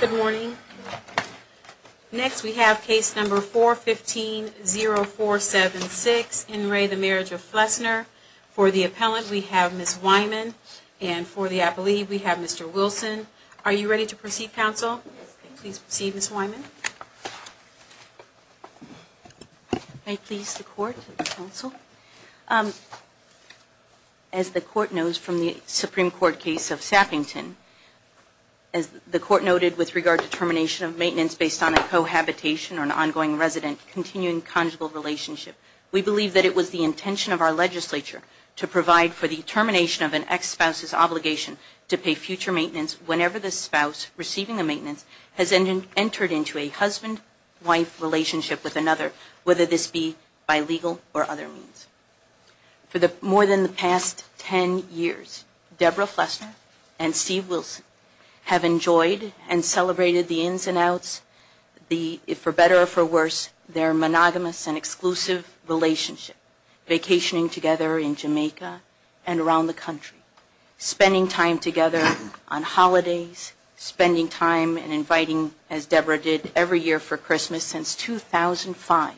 Good morning. Next we have case number 415-0476, In re the Marriage of Flesner. For the appellant we have Ms. Wyman and for the appellee we have Mr. Wilson. Are you ready to proceed, counsel? Please proceed, Ms. Wyman. May it please the court, counsel. As the court knows from the Supreme Court case of Sappington, as the court noted with regard to termination of maintenance based on a cohabitation or an ongoing resident continuing conjugal relationship, we believe that it was the intention of our legislature to provide for the termination of an ex-spouse's obligation to pay future maintenance whenever the spouse receiving the maintenance has entered into a husband-wife relationship with another, whether this be by legal or other means. For more than the past 10 years, Deborah Flesner and Steve Wilson have enjoyed and celebrated the ins and outs, for better or for worse, their monogamous and exclusive relationship, vacationing together in Jamaica and around the country, spending time together on holidays, spending time and inviting, as Deborah did, every year for Christmas since 2005,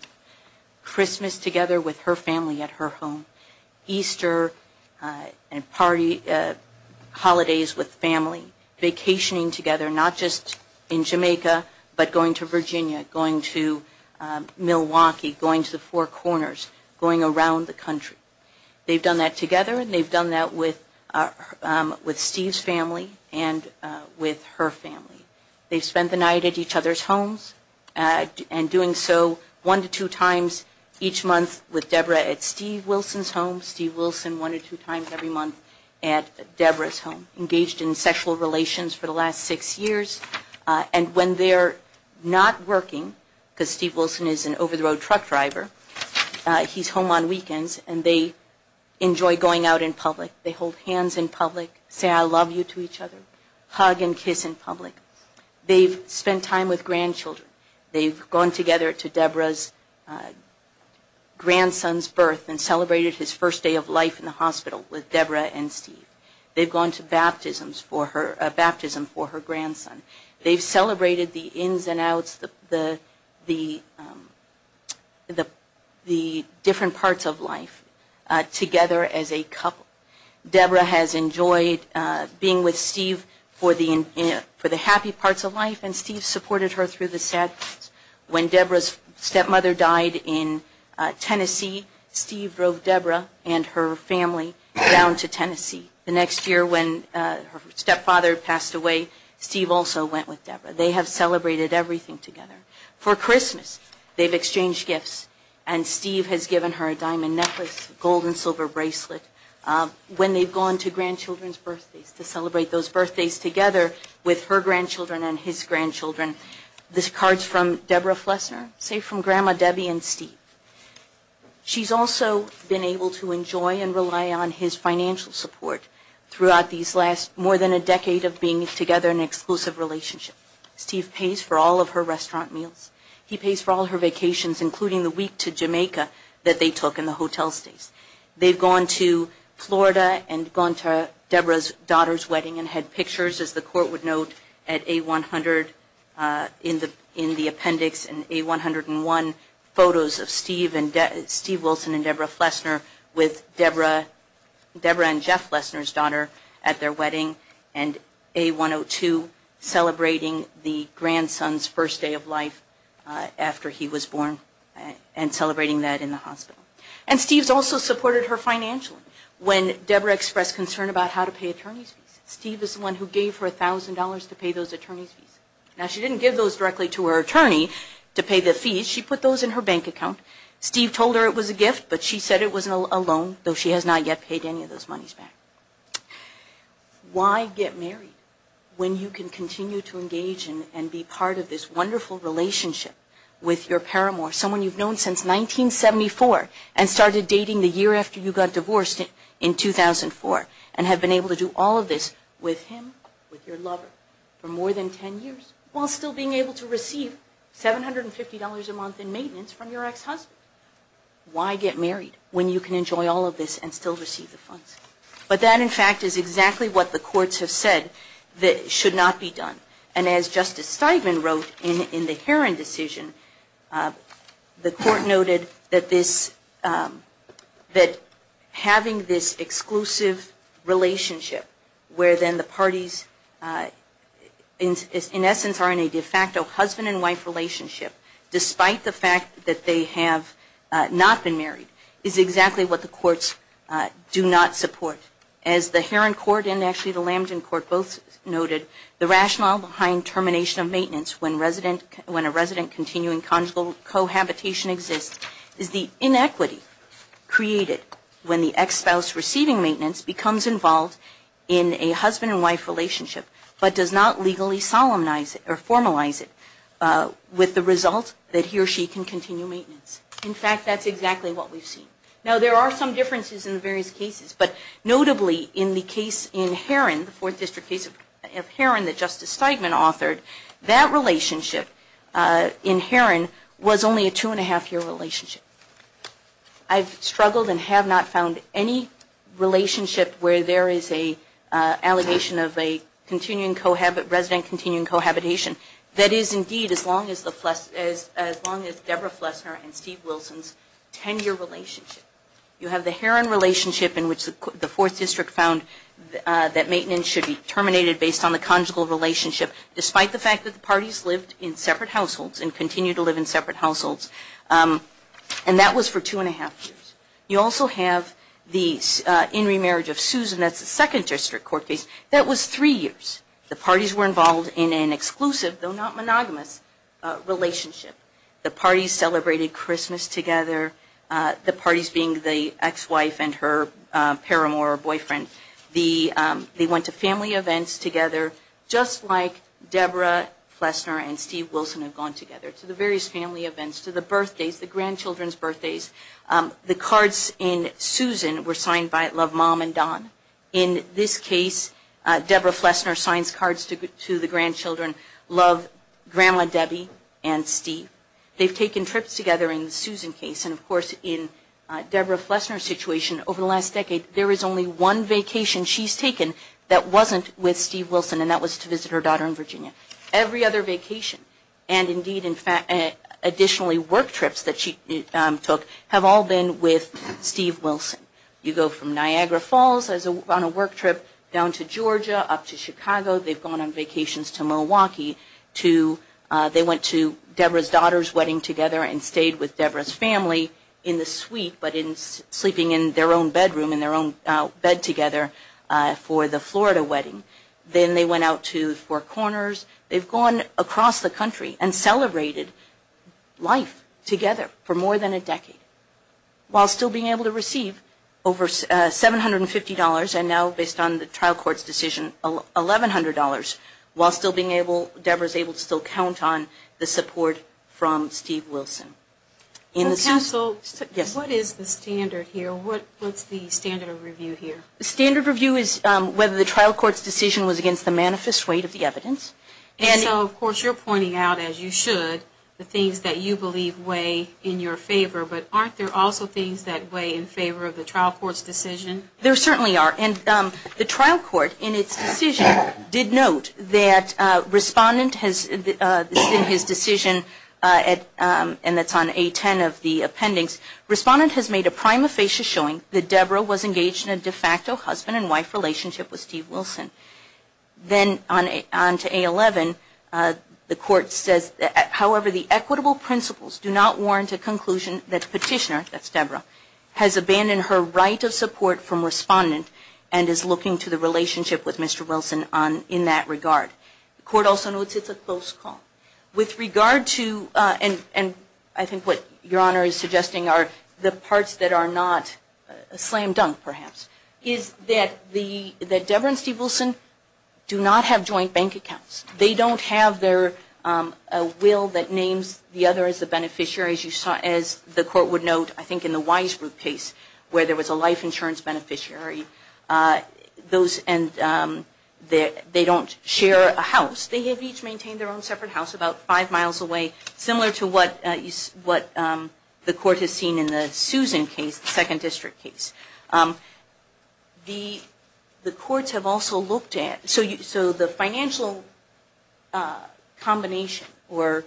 Christmas together with her family at home. Easter and party holidays with family, vacationing together, not just in Jamaica, but going to Virginia, going to Milwaukee, going to the Four Corners, going around the country. They've done that together and they've done that with Steve's family and with her family. They've spent the night at each other's homes and doing so one to two times each month with Deborah at Steve Wilson's home, Steve Wilson one to two times every month at Deborah's home, engaged in sexual relations for the last six years. And when they're not working, because Steve Wilson is an over-the-road truck driver, he's home on weekends and they enjoy going out in public, they hold hands in public, say I love you to each other, hug and kiss in public. They've spent time with grandchildren, they've gone together to Deborah's grandson's birth and celebrated his first day of life in the hospital with Deborah and Steve. They've gone to baptism for her grandson. They've celebrated the ins and outs, the different parts of life together as a couple. Deborah has enjoyed being with Steve for the happy parts of life and Steve supported her through the sad parts. When Deborah's stepmother died in Tennessee, Steve drove Deborah and her family down to Tennessee. The next year when her stepfather passed away, Steve also went with Deborah. They have celebrated everything together. For Christmas, they've exchanged gifts and Steve has given her a diamond necklace, a gold and silver bracelet. When they've gone to grandchildren's birthdays to celebrate those birthdays together with her grandchildren and his grandchildren, there's cards from Deborah Flesner, say from Grandma Debbie and Steve. She's also been able to enjoy and rely on his financial support throughout these last more than a decade of being together in an exclusive relationship. Steve pays for all of her restaurant meals. He pays for all her vacations, including the week to Jamaica that they took in the hotel stays. They've gone to Florida and gone to Deborah's daughter's wedding and had pictures, as the court would note, at A100 in the appendix and A101 photos of Steve Wilson and Deborah Flesner with Deborah and Jeff Flesner's daughter at their wedding and A102 celebrating their first day of life. And celebrating the grandson's first day of life after he was born and celebrating that in the hospital. And Steve's also supported her financially when Deborah expressed concern about how to pay attorney's fees. Steve is the one who gave her $1,000 to pay those attorney's fees. Now she didn't give those directly to her attorney to pay the fees. She put those in her bank account. Steve told her it was a gift, but she said it was a loan, though she has not yet paid any of those monies back. Why get married when you can continue to engage and be part of this wonderful relationship with your paramour? Someone you've known since 1974 and started dating the year after you got divorced in 2004 and have been able to do all of this with him, with your lover, for more than 10 years while still being able to receive $750 a month in maintenance from your ex-husband. Why get married when you can enjoy all of this and still receive the funds? But that, in fact, is exactly what the courts have said should not be done. And as Justice Steigman wrote in the Heron decision, the court noted that having this exclusive relationship where then the parties, in essence, are in a de facto husband and wife relationship, despite the fact that they have a husband and wife relationship, but have not been married, is exactly what the courts do not support. As the Heron court and actually the Lambton court both noted, the rationale behind termination of maintenance when a resident continuing conjugal cohabitation exists is the inequity created when the ex-spouse receiving maintenance becomes involved in a husband and wife relationship, but does not legally solemnize it or formalize it with the result that he or she can continue maintenance. In fact, that's exactly what we've seen. Now, there are some differences in the various cases, but notably in the case in Heron, the Fourth District case of Heron that Justice Steigman authored, that relationship in Heron was only a two-and-a-half-year relationship. I've struggled and have not found any relationship where there is an allegation of a resident continuing cohabitation that is, indeed, as long as Deborah Flesner and Steve Willis have been married. You have the Heron relationship in which the Fourth District found that maintenance should be terminated based on the conjugal relationship, despite the fact that the parties lived in separate households and continue to live in separate households, and that was for two-and-a-half years. You also have the in remarriage of Susan, that's the Second District court case, that was three years. The parties were involved in an exclusive, though not monogamous, relationship. The parties celebrated Christmas together, the parties being the ex-wife and her paramour boyfriend. They went to family events together, just like Deborah Flesner and Steve Wilson have gone together, to the various family events, to the birthdays, the grandchildren's birthdays. The cards in Susan were signed by Love Mom and Don. In this case, Deborah Flesner signs cards to the grandchildren, Love, Grandma Debbie, and Steve. They've taken trips together in the Susan case, and of course, in Deborah Flesner's situation, over the last decade, there is only one vacation she's taken that wasn't with Steve Wilson, and that was to visit her daughter in Virginia. Every other vacation, and indeed, additionally, work trips that she took, have all been with Steve Wilson. You go from Niagara Falls on a work trip, down to Georgia, up to Chicago, they've gone on vacations to Milwaukee. They went to Deborah's daughter's wedding together and stayed with Deborah's family in the suite, but sleeping in their own bedroom, in their own bed together, for the Florida wedding. Then they went out to Four Corners. They've gone across the country and celebrated life together, for more than a decade, while still being able to receive over $750, and now, based on the trial court's decision, $1,100, while still being able, Deborah's able to still count on the support from Steve Wilson. In the suit... What is the standard here? The standard review is whether the trial court's decision was against the manifest weight of the evidence. And so, of course, you're pointing out, as you should, the things that you believe weigh in your favor, but aren't there also things that weigh in favor of the trial court's decision? There certainly are. And the trial court, in its decision, did note that Respondent has, in his decision, and that's on A-10 of the appendix, Respondent has made a prima facie showing that Deborah was engaged in a de facto husband and wife relationship with Steve Wilson. Then, on to A-11, the court says, however, the equitable principles do not warrant a conclusion that the petitioner, that's Deborah, has abandoned her right of support from Respondent, and that the petitioner has abandoned her right of support from Respondent. And is looking to the relationship with Mr. Wilson in that regard. The court also notes it's a close call. With regard to, and I think what Your Honor is suggesting are the parts that are not slam dunk, perhaps, is that Deborah and Steve Wilson do not have joint bank accounts. They don't have their will that names the other as the beneficiary, as you saw, as the court would note, I think, in the Wise Ruth case, where there was a life insurance beneficiary. Those, and they don't share a house. They have each maintained their own separate house about five miles away, similar to what the court has seen in the Susan case, the second district case. The courts have also looked at, so the financial combination, or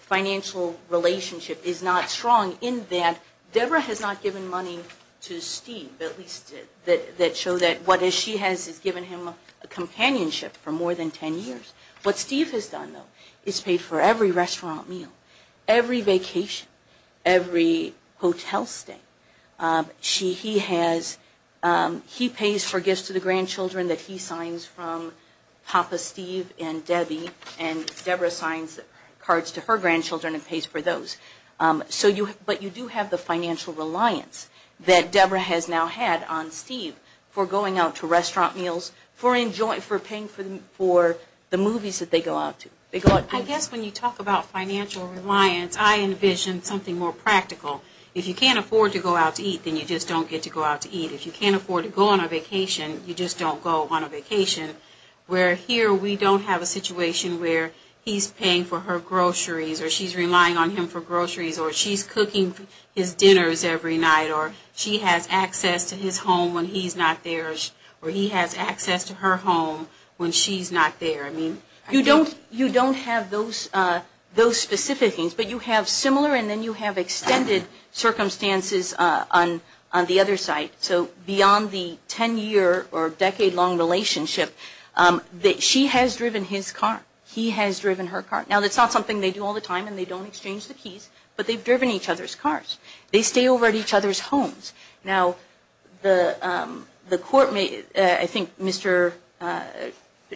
financial relationship is not strong in that Deborah has not given money to Steve, but at least to Mr. Wilson. That show that what she has is given him companionship for more than ten years. What Steve has done, though, is paid for every restaurant meal, every vacation, every hotel stay. He has, he pays for gifts to the grandchildren that he signs from Papa Steve and Debbie, and Deborah signs cards to her grandchildren and pays for those. But you do have the financial reliance that Deborah has now had on Steve for going out to restaurant meals, for paying for the movies that they go out to. I guess when you talk about financial reliance, I envision something more practical. If you can't afford to go out to eat, then you just don't get to go out to eat. If you can't afford to go on a vacation, you just don't go on a vacation. Where here we don't have a situation where he's paying for her groceries, or she's relying on him for groceries, or she's cooking his dinners every night, or she has access to his home when he's not there, or he has access to her home when she's not there. I mean, you don't have those specific things, but you have similar and then you have extended circumstances on the other side. So beyond the 10-year or decade-long relationship, she has driven his car, he has driven her car. Now, that's not something they do all the time and they don't exchange the keys, but they've driven each other's cars. They stay over at each other's homes. Now, the court may, I think Mr.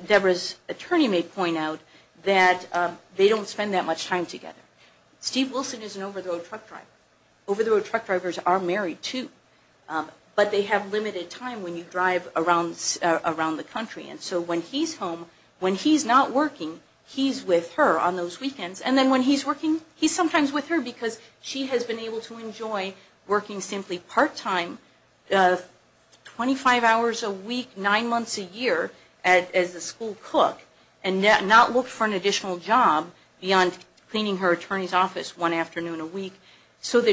Deborah's attorney may point out that they don't spend that much time together. Steve Wilson is an over-the-road truck driver. Over-the-road truck drivers are married, too, but they have limited time when you drive around the country. And so when he's home, when he's not working, he's with her on those weekends. And then when he's working, he's sometimes with her because she has been able to enjoy working simply part-time, 25 hours a week, 9 months a year as a school cook, and not look for an additional job beyond cleaning her attorney. So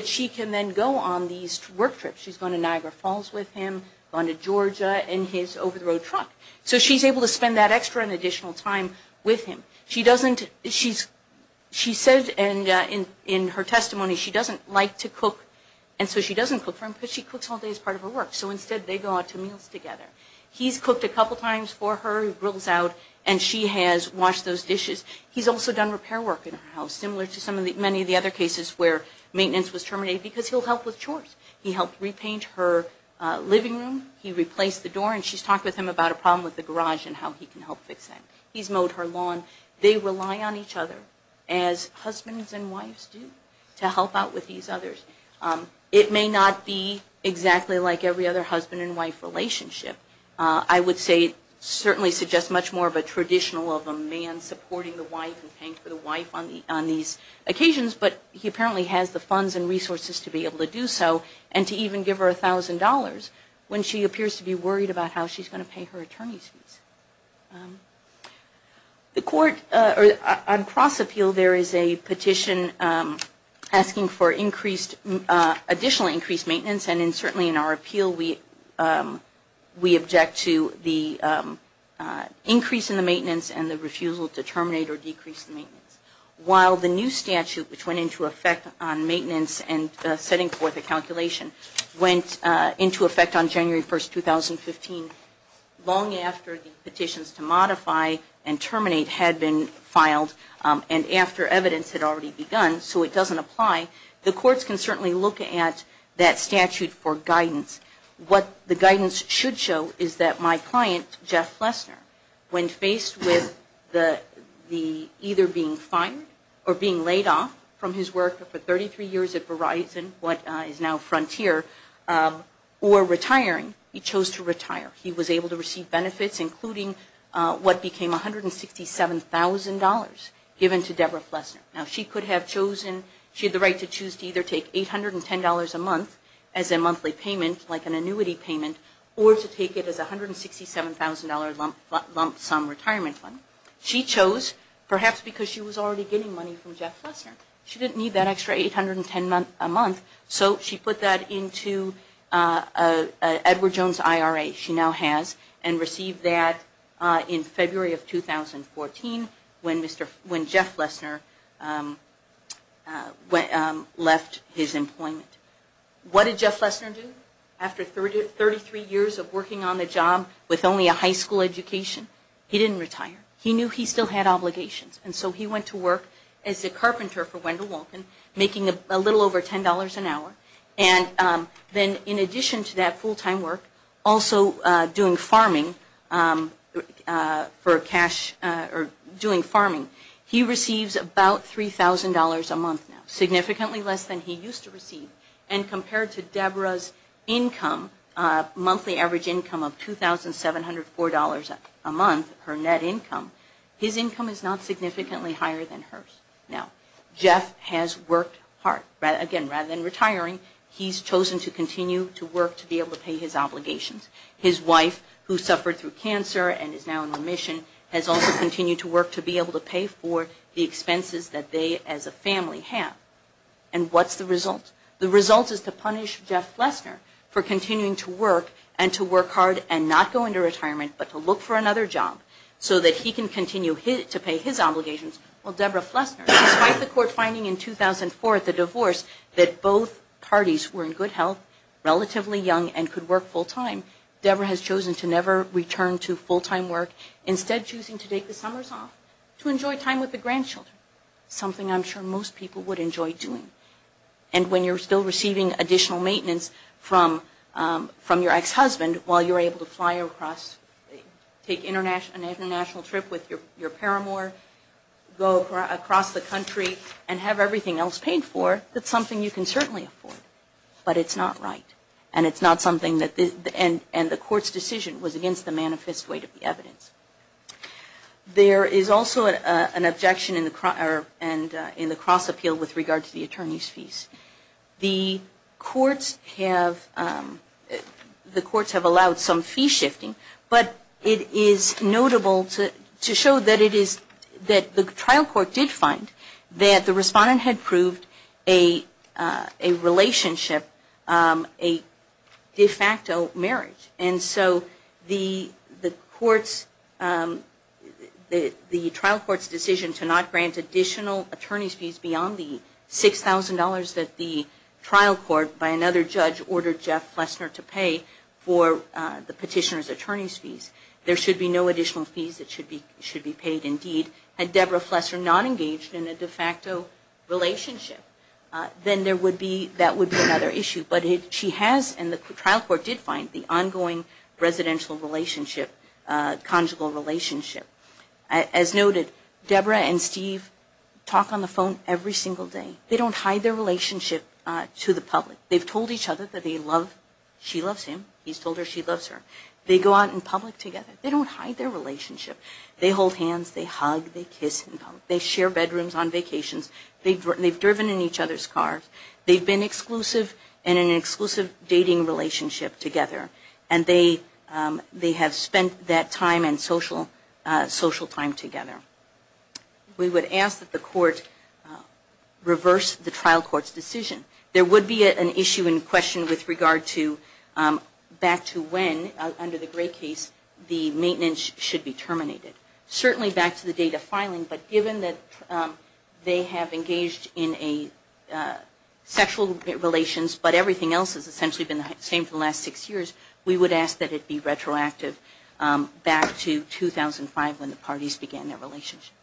she can then go on these work trips. She's going to Niagara Falls with him, going to Georgia in his over-the-road truck. So she's able to spend that extra and additional time with him. She says in her testimony she doesn't like to cook, and so she doesn't cook for him because she cooks all day as part of her work. So instead they go out to meals together. He's cooked a couple times for her, he grills out, and she has washed those dishes. He's also done repair work in her house, similar to many of the other cases where maintenance was terminated because he'll help with chores. He helped repaint her living room. He replaced the door, and she's talked with him about a problem with the garage and how he can help fix that. He's mowed her lawn. They rely on each other, as husbands and wives do, to help out with these others. It may not be exactly like every other husband and wife relationship. I would say it certainly suggests much more of a traditional of a man supporting the wife and paying for the wife on these occasions, but he apparently has the funds and resources to be able to do so, and to even give her $1,000 when she appears to be worried about how she's going to pay her attorney's fees. On cross-appeal, there is a petition asking for additional increased maintenance. And certainly in our appeal we object to the increase in the maintenance and the refusal to terminate or decrease the maintenance. While the new statute, which went into effect on maintenance and setting forth a calculation, went into effect on January 1, 2015, long after the petitions to modify and terminate had been filed, and after evidence had already begun, so it doesn't apply, the courts can certainly look at that statute for guidance. What the guidance should show is that my client, Jeff Lesner, when faced with either being fired or being laid off from his work for 33 years at Verizon, what is now Frontier, or retiring, he chose to retire. He was able to receive benefits, including what became $167,000 given to Debra Lesner. Now she could have chosen, she had the right to choose to either take $810 a month as a monthly payment, like an annuity payment, or to take it as a $167,000 lump sum retirement fund. She chose, perhaps because she was already getting money from Jeff Lesner. She didn't need that extra $810 a month, so she put that into Edward Jones IRA, she now has, and received that in February of 2014, when Jeff Lesner left his employment. What did Jeff Lesner do? After 33 years of working on the job with only a high school education, he didn't retire. He knew he still had obligations, and so he went to work as a carpenter for Wendell Wolkin, making a little over $10 an hour, and then in addition to that full-time work, also doing farming for cash, or doing farming, he receives about $3,000 a month now, significantly less than he used to receive, and compared to Debra's income, monthly average income of $2,704 a month, her net income, his income is not significantly higher than hers. Now, Jeff has worked hard, again, rather than retiring, he's chosen to continue to work to be able to pay his obligations. His wife, who suffered through cancer and is now in remission, has also continued to work to be able to pay for the expenses that they, as a family, have. And what's the result? The result is to punish Jeff Lesner for continuing to work and to work hard and not go into retirement, but to look for another job so that he can continue to pay his obligations. Well, Debra Lesner, despite the court finding in 2004 at the divorce that both parties were in good health, relatively young, and could work full-time, Debra has chosen to never return to full-time work, instead choosing to take the summers off to enjoy time with the grandchildren, something I'm sure most people would enjoy doing. And when you're still receiving additional maintenance from your ex-husband while you're able to fly across, take an international trip with your paramour, go across the country and have everything else paid for, that's something you can certainly afford. But it's not right. And the court's decision was against the manifest weight of the evidence. There is also an objection in the cross-appeal with regard to the attorney's fees. The courts have allowed some fee shifting, but it is notable to show that the trial court did find that the respondent had proved a relationship, a de facto marriage. And so the trial court's decision to not grant additional attorney's fees beyond the $6,000 that the trial court, by another judge, ordered Jeff Lesner to pay for the petitioner's attorney's fees, there should be no additional fees that should be paid indeed. Had Debra Flesser not engaged in a de facto relationship, then that would be another issue. But she has, and the trial court did find, the ongoing residential relationship, conjugal relationship. As noted, Debra and Steve talk on the phone every single day. They don't hide their relationship to the public. They've told each other that they love, she loves him, he's told her she loves her. They go out in public together. They don't hide their relationship. They hold hands, they hug, they kiss in public. They share bedrooms on vacations. They've driven in each other's cars. They've been exclusive in an exclusive dating relationship together. And they have spent that time and social time together. We would ask that the court reverse the trial court's decision. There would be an issue in question with regard to back to when, under the Gray case, the maintenance should be terminated. Certainly back to the date of filing, but given that they have engaged in a sexual relations, but everything else has essentially been the same for the last six years, we would ask that it be retroactive back to 2005 when the parties began their relationship.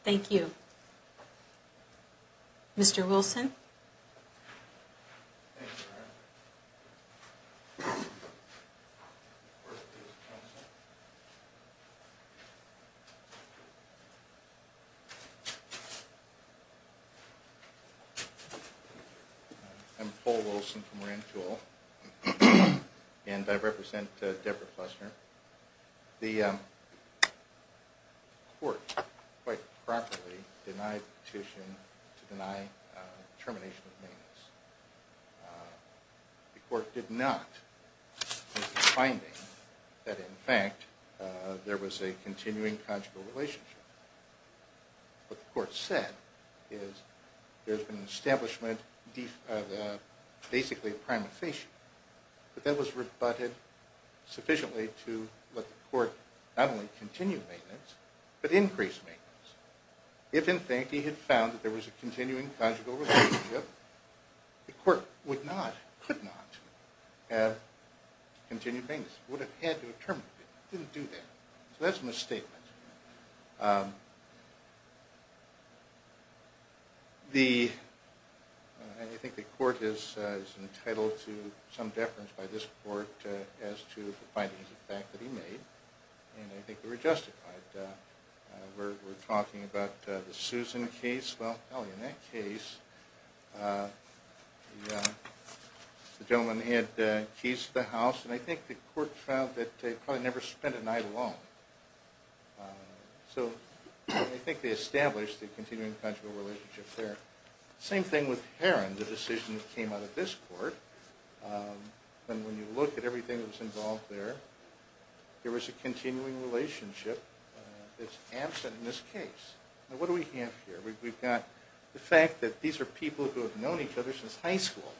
Thank you. I'm Paul Wilson from Rand Tool, and I represent Deborah Flesner. The court quite properly denied the petition to deny termination of maintenance. The court did not make the finding that, in fact, there was a continuing conjugal relationship. What the court said is there's been an establishment of basically a prima facie, but that was rebutted sufficiently to let the court not only continue maintenance, but increase maintenance. If, in fact, he had found that there was a continuing conjugal relationship, the court would not, could not have continued maintenance. It would have had to have terminated it. It didn't do that. So that's a misstatement. I think the court is entitled to some deference by this court as to the findings, in fact, that he made. And I think they were justified. We're talking about the Susan case. Well, in that case, the gentleman had keys to the house, and I think the court found that they probably never spent a night alone. So I think they established the continuing conjugal relationship there. Same thing with Heron, the decision that came out of this court. And when you look at everything that was involved there, there was a continuing relationship that's absent in this case. Now, what do we have here? We've got the fact that these are people who have known each other since high school,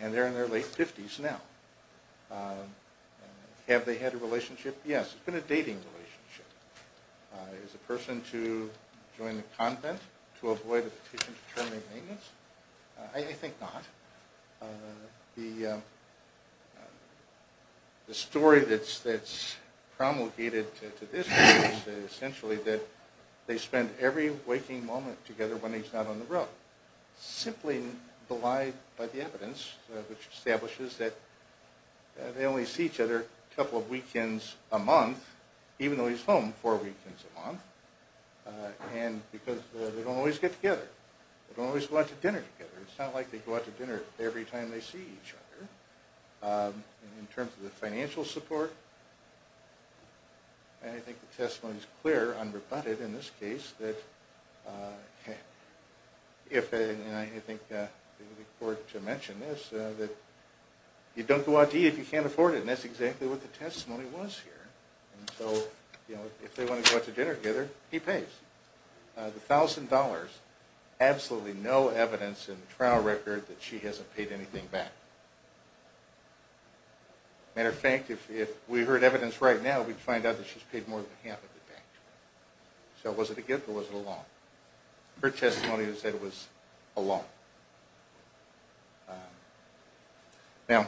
and they're in their late 50s now. Have they had a relationship? Yes. It's been a dating relationship. Is the person to join the convent to avoid a petition to terminate maintenance? I think not. The story that's promulgated to this case is essentially that they spent every waking moment together when he's not on the road. Simply belied by the evidence, which establishes that they only see each other a couple of weekends a month, even though he's home four weekends a month, because they don't always get together. They don't always go out to dinner together. It's not like they go out to dinner every time they see each other. In terms of the financial support, I think the testimony is clear, unrebutted in this case, that you don't go out to eat if you can't afford it. And that's exactly what the testimony was here. And so if they want to go out to dinner together, he pays. The $1,000, absolutely no evidence in the trial record that she hasn't paid anything back. Matter of fact, if we heard evidence right now, we'd find out that she's paid more than half of the bank. So was it a gift or was it a loan? Her testimony said it was a loan. Now,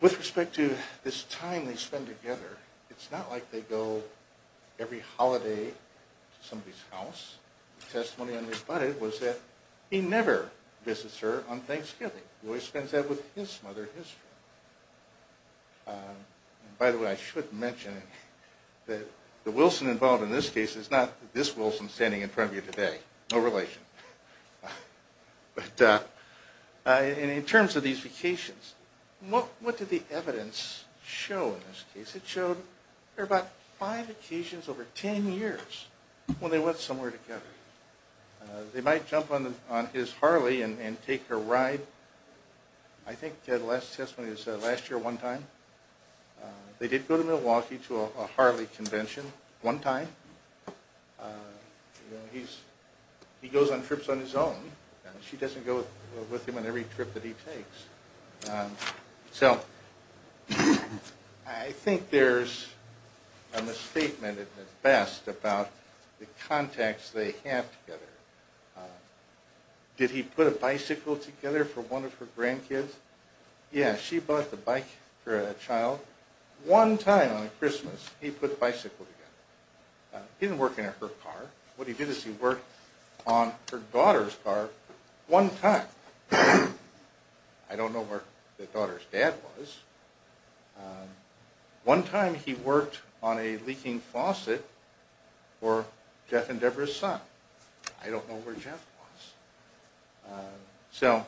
with respect to this time they spend together, it's not like they go every holiday to somebody's house. The testimony unrebutted was that he never visits her on Thanksgiving. He always spends that with his mother, his friend. By the way, I should mention that the Wilson involved in this case is not this Wilson standing in front of you today, no relation. In terms of these vacations, what did the evidence show in this case? It showed there were about five occasions over ten years when they went somewhere together. They might jump on his Harley and take her ride. I think the last testimony was last year one time. They did go to Milwaukee to a Harley convention one time. He goes on trips on his own and she doesn't go with him on every trip that he takes. So I think there's a misstatement at best about the contacts they have together. Did he put a bicycle together for one of her grandkids? Yeah, she bought the bike for a child one time on Christmas. He didn't work in her car. What he did is he worked on her daughter's car one time. I don't know where the daughter's dad was. One time he worked on a leaking faucet for Jeff and Deborah's son. I don't know where Jeff was. So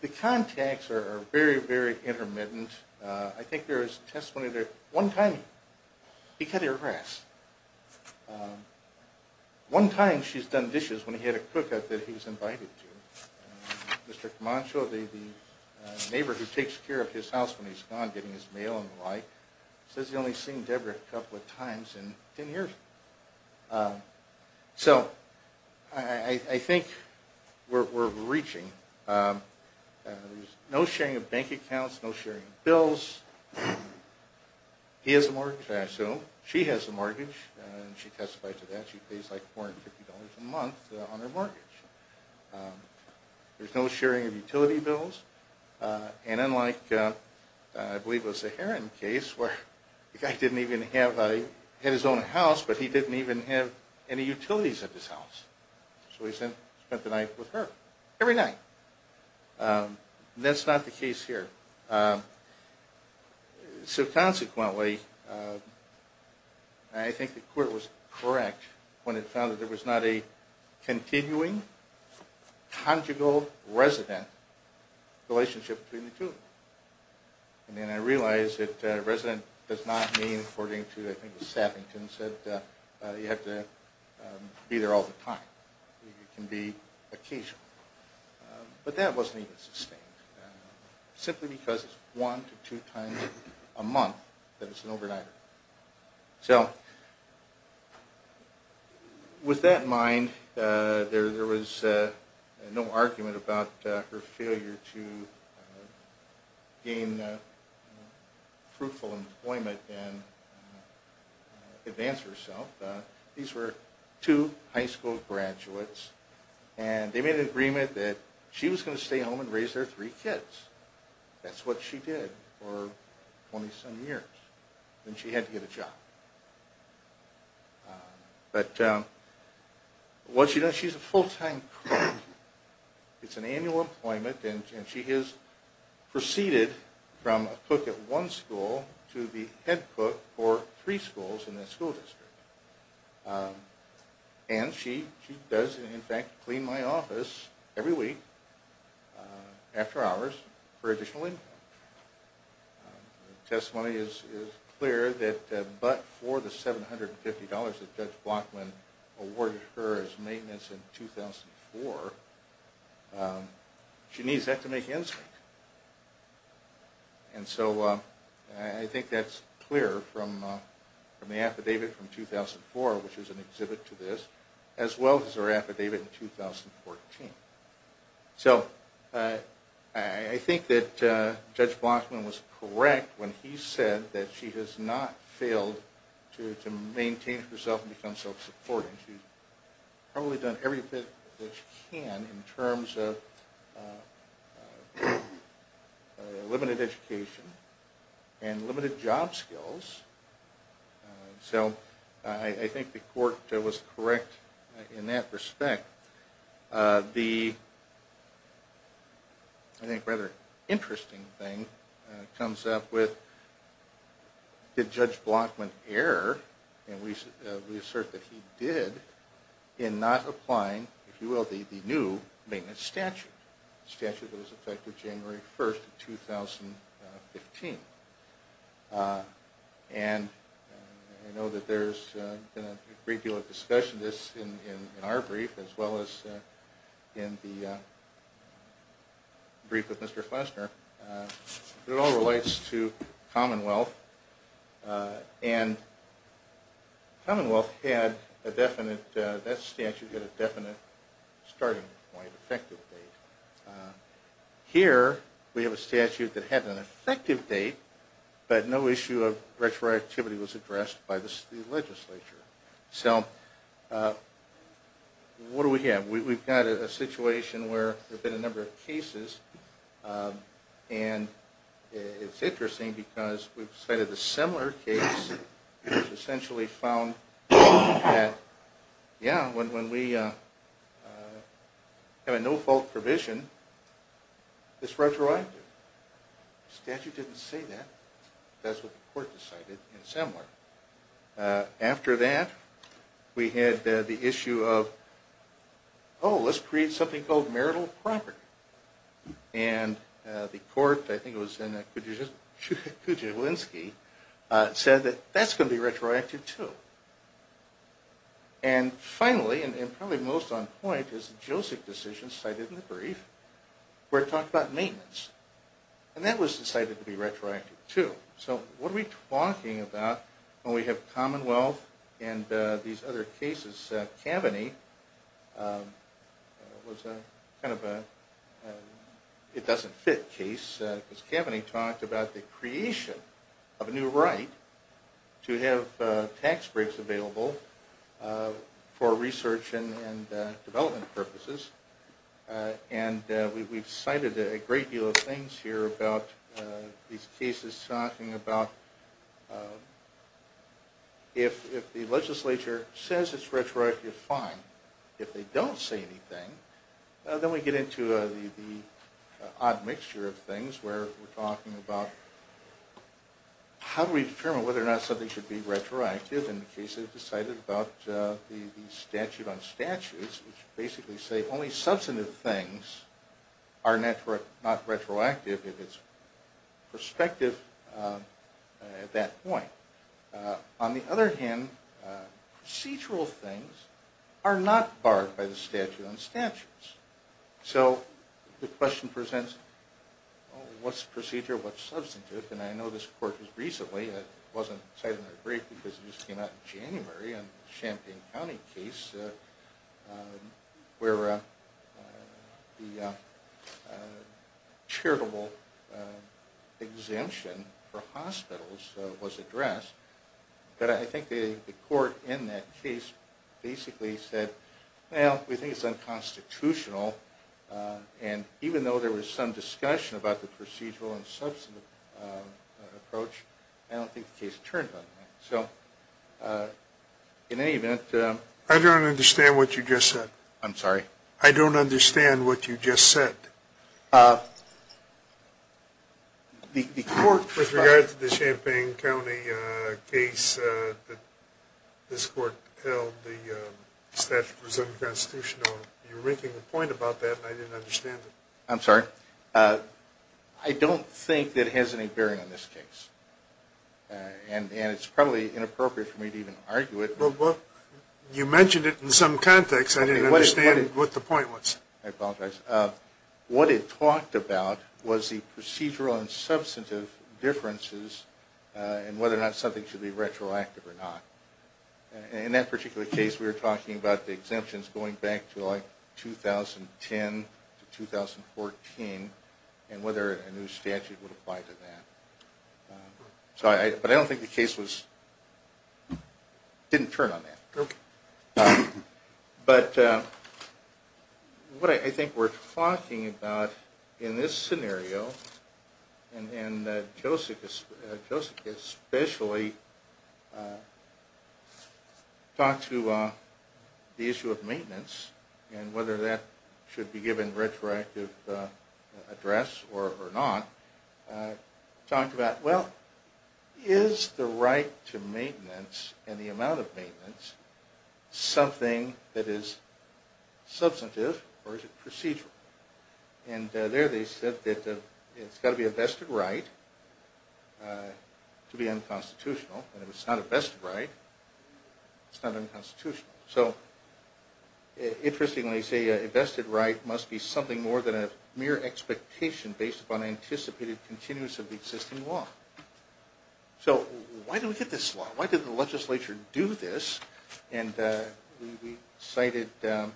the contacts are very, very intermittent. I think there is testimony that one time he cut her grass. One time she's done dishes when he had a cook that he was invited to. Mr. Camacho, the neighbor who takes care of his house when he's gone getting his mail and the like, says he's only seen Deborah a couple of times in 10 years. So I think we're reaching. There's no sharing of bank accounts, no sharing of bills. He has a mortgage, I assume. She has a mortgage. She testifies to that. She pays like $450 a month on her mortgage. There's no sharing of utility bills. And unlike, I believe it was the Heron case where the guy didn't even have his own house but he didn't even have any utilities at his house. So he spent the night with her. Every night. And that's not the case here. So consequently, I think the court was correct when it found that there was not a continuing, conjugal resident relationship between the two of them. And I realize that resident does not mean, according to, I think, Saffington, you have to be there all the time. You can be occasional. But that wasn't even sustained. Simply because it's one to two times a month that it's an overnighter. So with that in mind, there was no argument about her failure to gain fruitful employment and advance herself. These were two high school graduates. And they made an agreement that she was going to stay home and raise their three kids. That's what she did for 20-some years. Then she had to get a job. But what she does, she's a full-time clerk. It's an annual employment, and she has proceeded from a cook at one school to the head cook for three schools in that school district. And she does, in fact, clean my office every week, after hours, for additional income. The testimony is clear that but for the $750 that Judge Blockman awarded her as maintenance in 2004, she needs that to make ends meet. And so I think that's clear from the affidavit from 2004, which is an exhibit to this, as well as her affidavit in 2014. So I think that Judge Blockman was correct when he said that she has not failed to maintain herself and become self-supporting. She's probably done everything that she can in terms of limited education and limited job skills. So I think the court was correct in that respect. The, I think, rather interesting thing comes up with, did Judge Blockman err, and we assert that he did, in not applying, if you will, the new maintenance statute. Statute that was effected January 1, 2015. And I know that there's been a great deal of discussion of this in our brief, as well as in the brief with Mr. Flesner. It all relates to Commonwealth. And Commonwealth had a definite, that statute had a definite starting point, effective date. Here, we have a statute that had an effective date, but no issue of retroactivity was addressed by the legislature. So what do we have? We've got a situation where there have been a number of cases, and it's interesting because we've cited a similar case, which essentially found that, yeah, when we have a no-fault provision, it's retroactive. The statute didn't say that. That's what the court decided in Semler. After that, we had the issue of, oh, let's create something called marital property. And the court, I think it was in Kujawinski, said that that's going to be retroactive, too. And finally, and probably most on point, is the JOSIC decision cited in the brief, where it talked about maintenance. And that was decided to be retroactive, too. So what are we talking about when we have Commonwealth and these other cases? Cavaney was kind of a it-doesn't-fit case, because Cavaney talked about the creation of a new right to have tax breaks available for research and development purposes. And we've cited a great deal of things here about these cases, talking about if the legislature says it's retroactive, fine. If they don't say anything, then we get into the odd mixture of things, where we're talking about how do we determine whether or not something should be retroactive in the case they've decided about the statute on statutes, which basically say only substantive things are not retroactive if it's prospective at that point. On the other hand, procedural things are not barred by the statute on statutes. So the question presents what's procedural, what's substantive? And I know this court has recently, it wasn't cited in the brief because it just came out in January, a Champaign County case where the charitable exemption for hospitals was addressed. But I think the court in that case basically said, well, we think it's unconstitutional. And even though there was some discussion about the procedural and substantive approach, I don't think the case turned on that. So in any event... I don't understand what you just said. I'm sorry? I don't understand what you just said. The court, with regard to the Champaign County case that this court held the statute was unconstitutional, you're making a point about that, and I didn't understand it. I'm sorry? I don't think that it has any bearing on this case. And it's probably inappropriate for me to even argue it. You mentioned it in some context. I didn't understand what the point was. I apologize. What it talked about was the procedural and substantive differences and whether or not something should be retroactive or not. In that particular case, we were talking about the exemptions going back to like 2010 to 2014 and whether a new statute would apply to that. But I don't think the case didn't turn on that. But what I think we're talking about in this scenario, and Josek especially talked to the issue of maintenance and whether that should be given retroactive address or not, talked about, well, is the right to maintenance and the amount of maintenance something that is substantive or is it procedural? And there they said that it's got to be a vested right to be unconstitutional. And if it's not a vested right, it's not unconstitutional. So interestingly, they say a vested right must be something more than a mere expectation based upon anticipated continuance of the existing law. So why do we get this law? Why did the legislature do this? And we cited a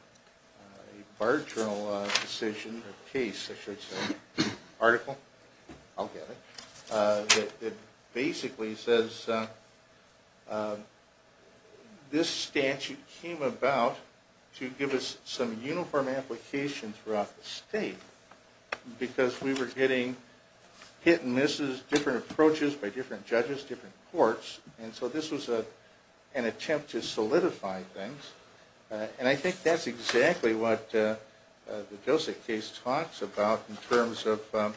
case, article, I'll get it, that basically says this statute came about to give us some uniform application throughout the state because we were getting hit and misses, different approaches by different judges, different courts. And so this was an attempt to solidify things. And I think that's exactly what the Josek case talks about in terms of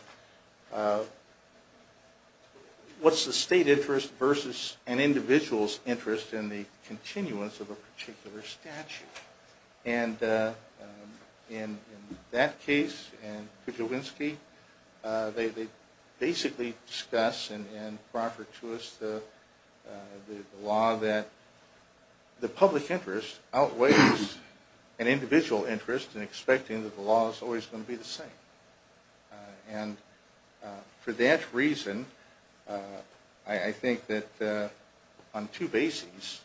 what's the state interest versus an individual's interest in the continuance of a particular statute. And in that case and Kuczylwinski, they basically discuss and proffer to us the law that the public interest outweighs an individual interest in expecting that the law is always going to be the same. And for that reason, I think that on two bases,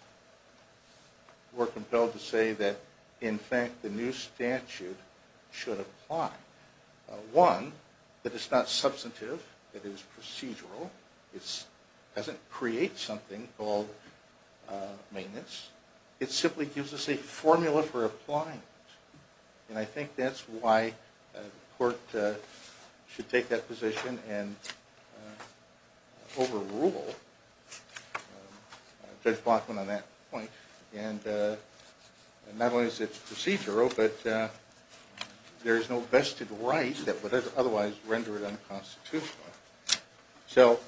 we're compelled to say that in fact the new statute should apply. One, that it's not substantive. It is procedural. It doesn't create something called maintenance. It simply gives us a formula for applying it. And I think that's why the court should take that position and overrule Judge Bachman on that point. And not only is it procedural, but there is no vested right that would otherwise render it unconstitutional. So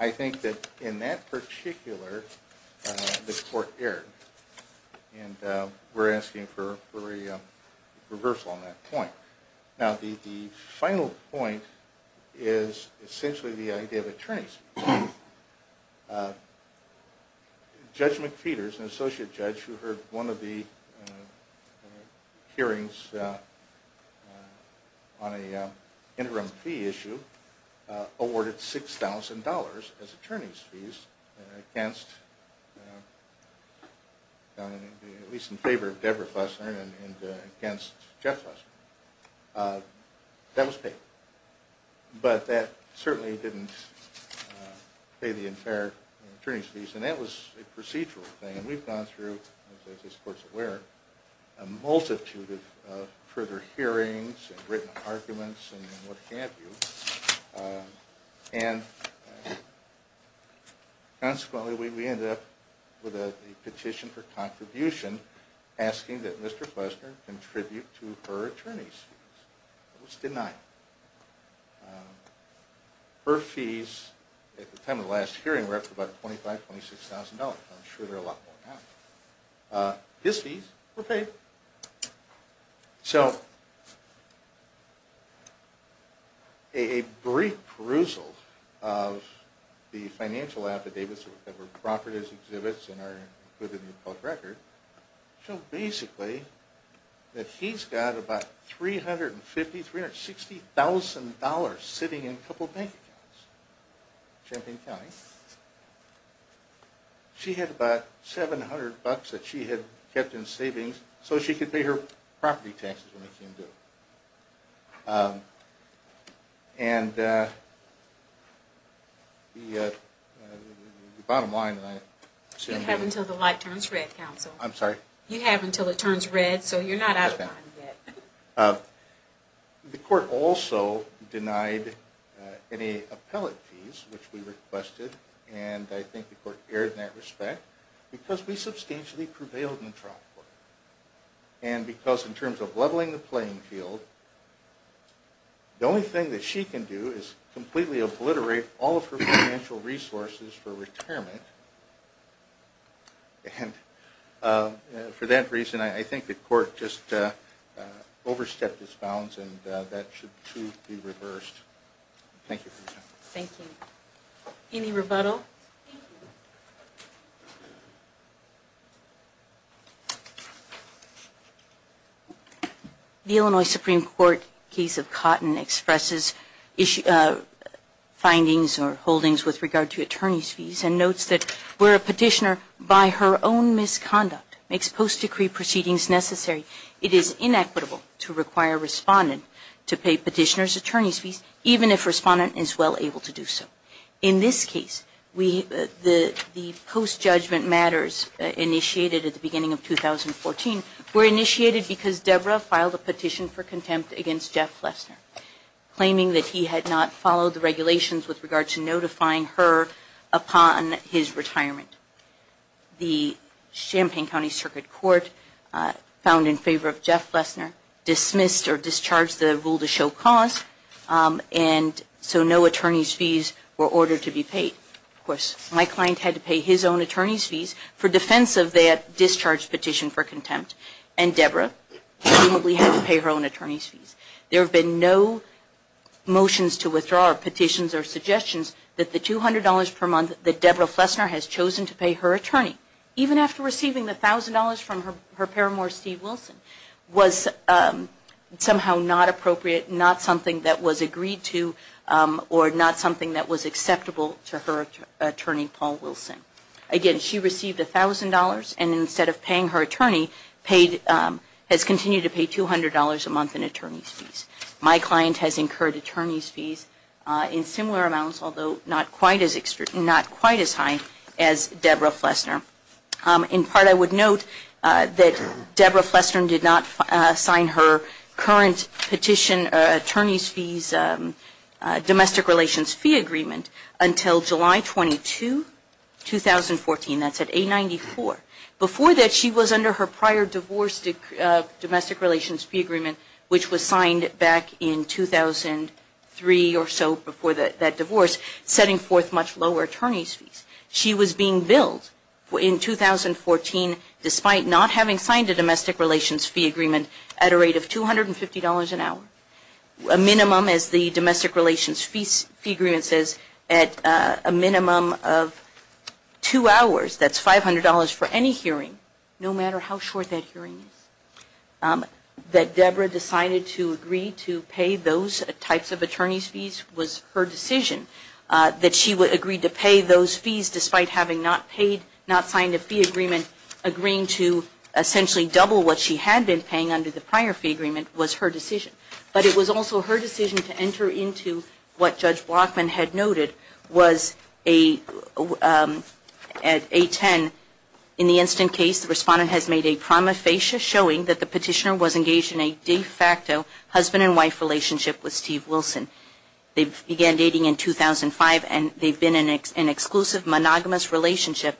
I think that in that particular the court erred. And we're asking for a reversal on that point. Now the final point is essentially the idea of attorney's fees. Judge McPeters, an associate judge who heard one of the hearings on an interim fee issue, awarded $6,000 as attorney's fees against at least in favor of Deborah Flessner and against Jeff Flessner. That was paid. But that certainly didn't pay the entire attorney's fees. And that was a procedural thing. And we've gone through, as this court is aware, a multitude of further hearings and written arguments and what have you. And consequently we ended up with a petition for contribution asking that Mr. Flessner contribute to her attorney's fees. It was denied. Her fees at the time of the last hearing were up to about $25,000-26,000. I'm sure there are a lot more now. His fees were paid. So a brief perusal of the financial affidavits that were offered as exhibits and are included in the court record show basically that he's got about $350,000-$360,000 sitting in a couple bank accounts in Champaign County. She had about $700 that she had kept in savings so she could pay her And the bottom line... You have until the light turns red, counsel. I'm sorry? You have until it turns red so you're not out of line yet. The court also denied any appellate fees which we requested. And I think the court erred in that respect because we substantially prevailed in the trial court. And because in terms of leveling the playing field, the only thing that she can do is completely obliterate all of her financial resources for retirement. And for that reason, I think the court just overstepped its bounds and that should too be reversed. Thank you for your time. Thank you. Any rebuttal? The Illinois Supreme Court case of Cotton expresses findings or holdings with regard to attorney's fees and notes that where a petitioner by her own misconduct makes post-decree proceedings necessary, it is inequitable to require a respondent to pay petitioner's attorney's fees, even if a respondent is well able to do so. In this case, the post-judgment matters initiated at the beginning of 2014 were initiated because Deborah filed a petition for contempt against Jeff Flessner, claiming that he had not followed the regulations with regard to notifying her upon his retirement. The Champaign County Circuit Court found in favor of Jeff Flessner dismissed or discharged the rule to show cause, and so no attorney's fees were ordered to be paid. Of course, my client had to pay his own attorney's fees for defense of that discharged petition for contempt, and Deborah presumably had to pay her own attorney's fees. There have been no motions to withdraw or petitions or petitions to pay her attorney, even after receiving the $1,000 from her paramour, Steve Wilson, was somehow not appropriate, not something that was agreed to, or not something that was acceptable to her attorney, Paul Wilson. Again, she received $1,000 and instead of paying her attorney, has continued to pay $200 a month in attorney's fees. My client has incurred attorney's fees in similar amounts, although not quite as high as Deborah Flessner. In part, I would note that Deborah Flessner did not sign her current petition attorney's fees domestic relations fee agreement until July 22, 2014. That's at 894. Before that, she was under her prior divorce domestic relations fee agreement, which was signed back in 2003 or so before that divorce, setting forth much lower attorney's fees. She was being billed in 2014, despite not having signed a domestic relations fee agreement at a rate of $250 an hour, a minimum, as the domestic relations fee agreement says, at a minimum of two hours. That's $500 for any hearing, no matter how short that hearing is. That Deborah decided to agree to pay those types of attorney's fees was her decision. That she agreed to pay those fees despite having not signed a fee agreement, agreeing to essentially double what she had been paying under the prior fee agreement was her decision. But it was also her decision to enter into what we would call an exclusive monogamous relationship. In 2010, in the instant case, the respondent has made a prima facie showing that the petitioner was engaged in a de facto husband and wife relationship with Steve Wilson. They began dating in 2005, and they've been in an exclusive monogamous relationship.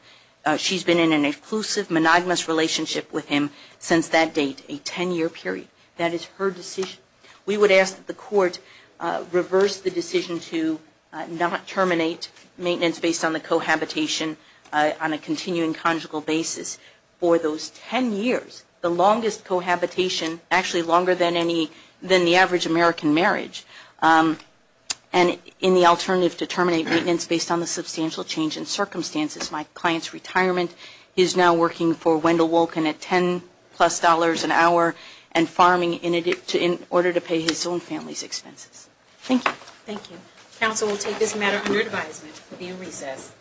She's been in an exclusive monogamous relationship with him since that date, a ten year period. That is her decision. We would ask that the court reverse the decision to not terminate maintenance based on the cohabitation on a continuing conjugal basis for those ten years. The longest cohabitation, actually longer than the average American marriage, and in the alternative to terminate maintenance based on the substantial change in circumstances. My client's retirement, he's now working for Wendell Wolkin at ten plus dollars an hour and farming in order to pay his own family's expenses. Thank you. Thank you. Counsel will take this matter under advisement. It will be in recess.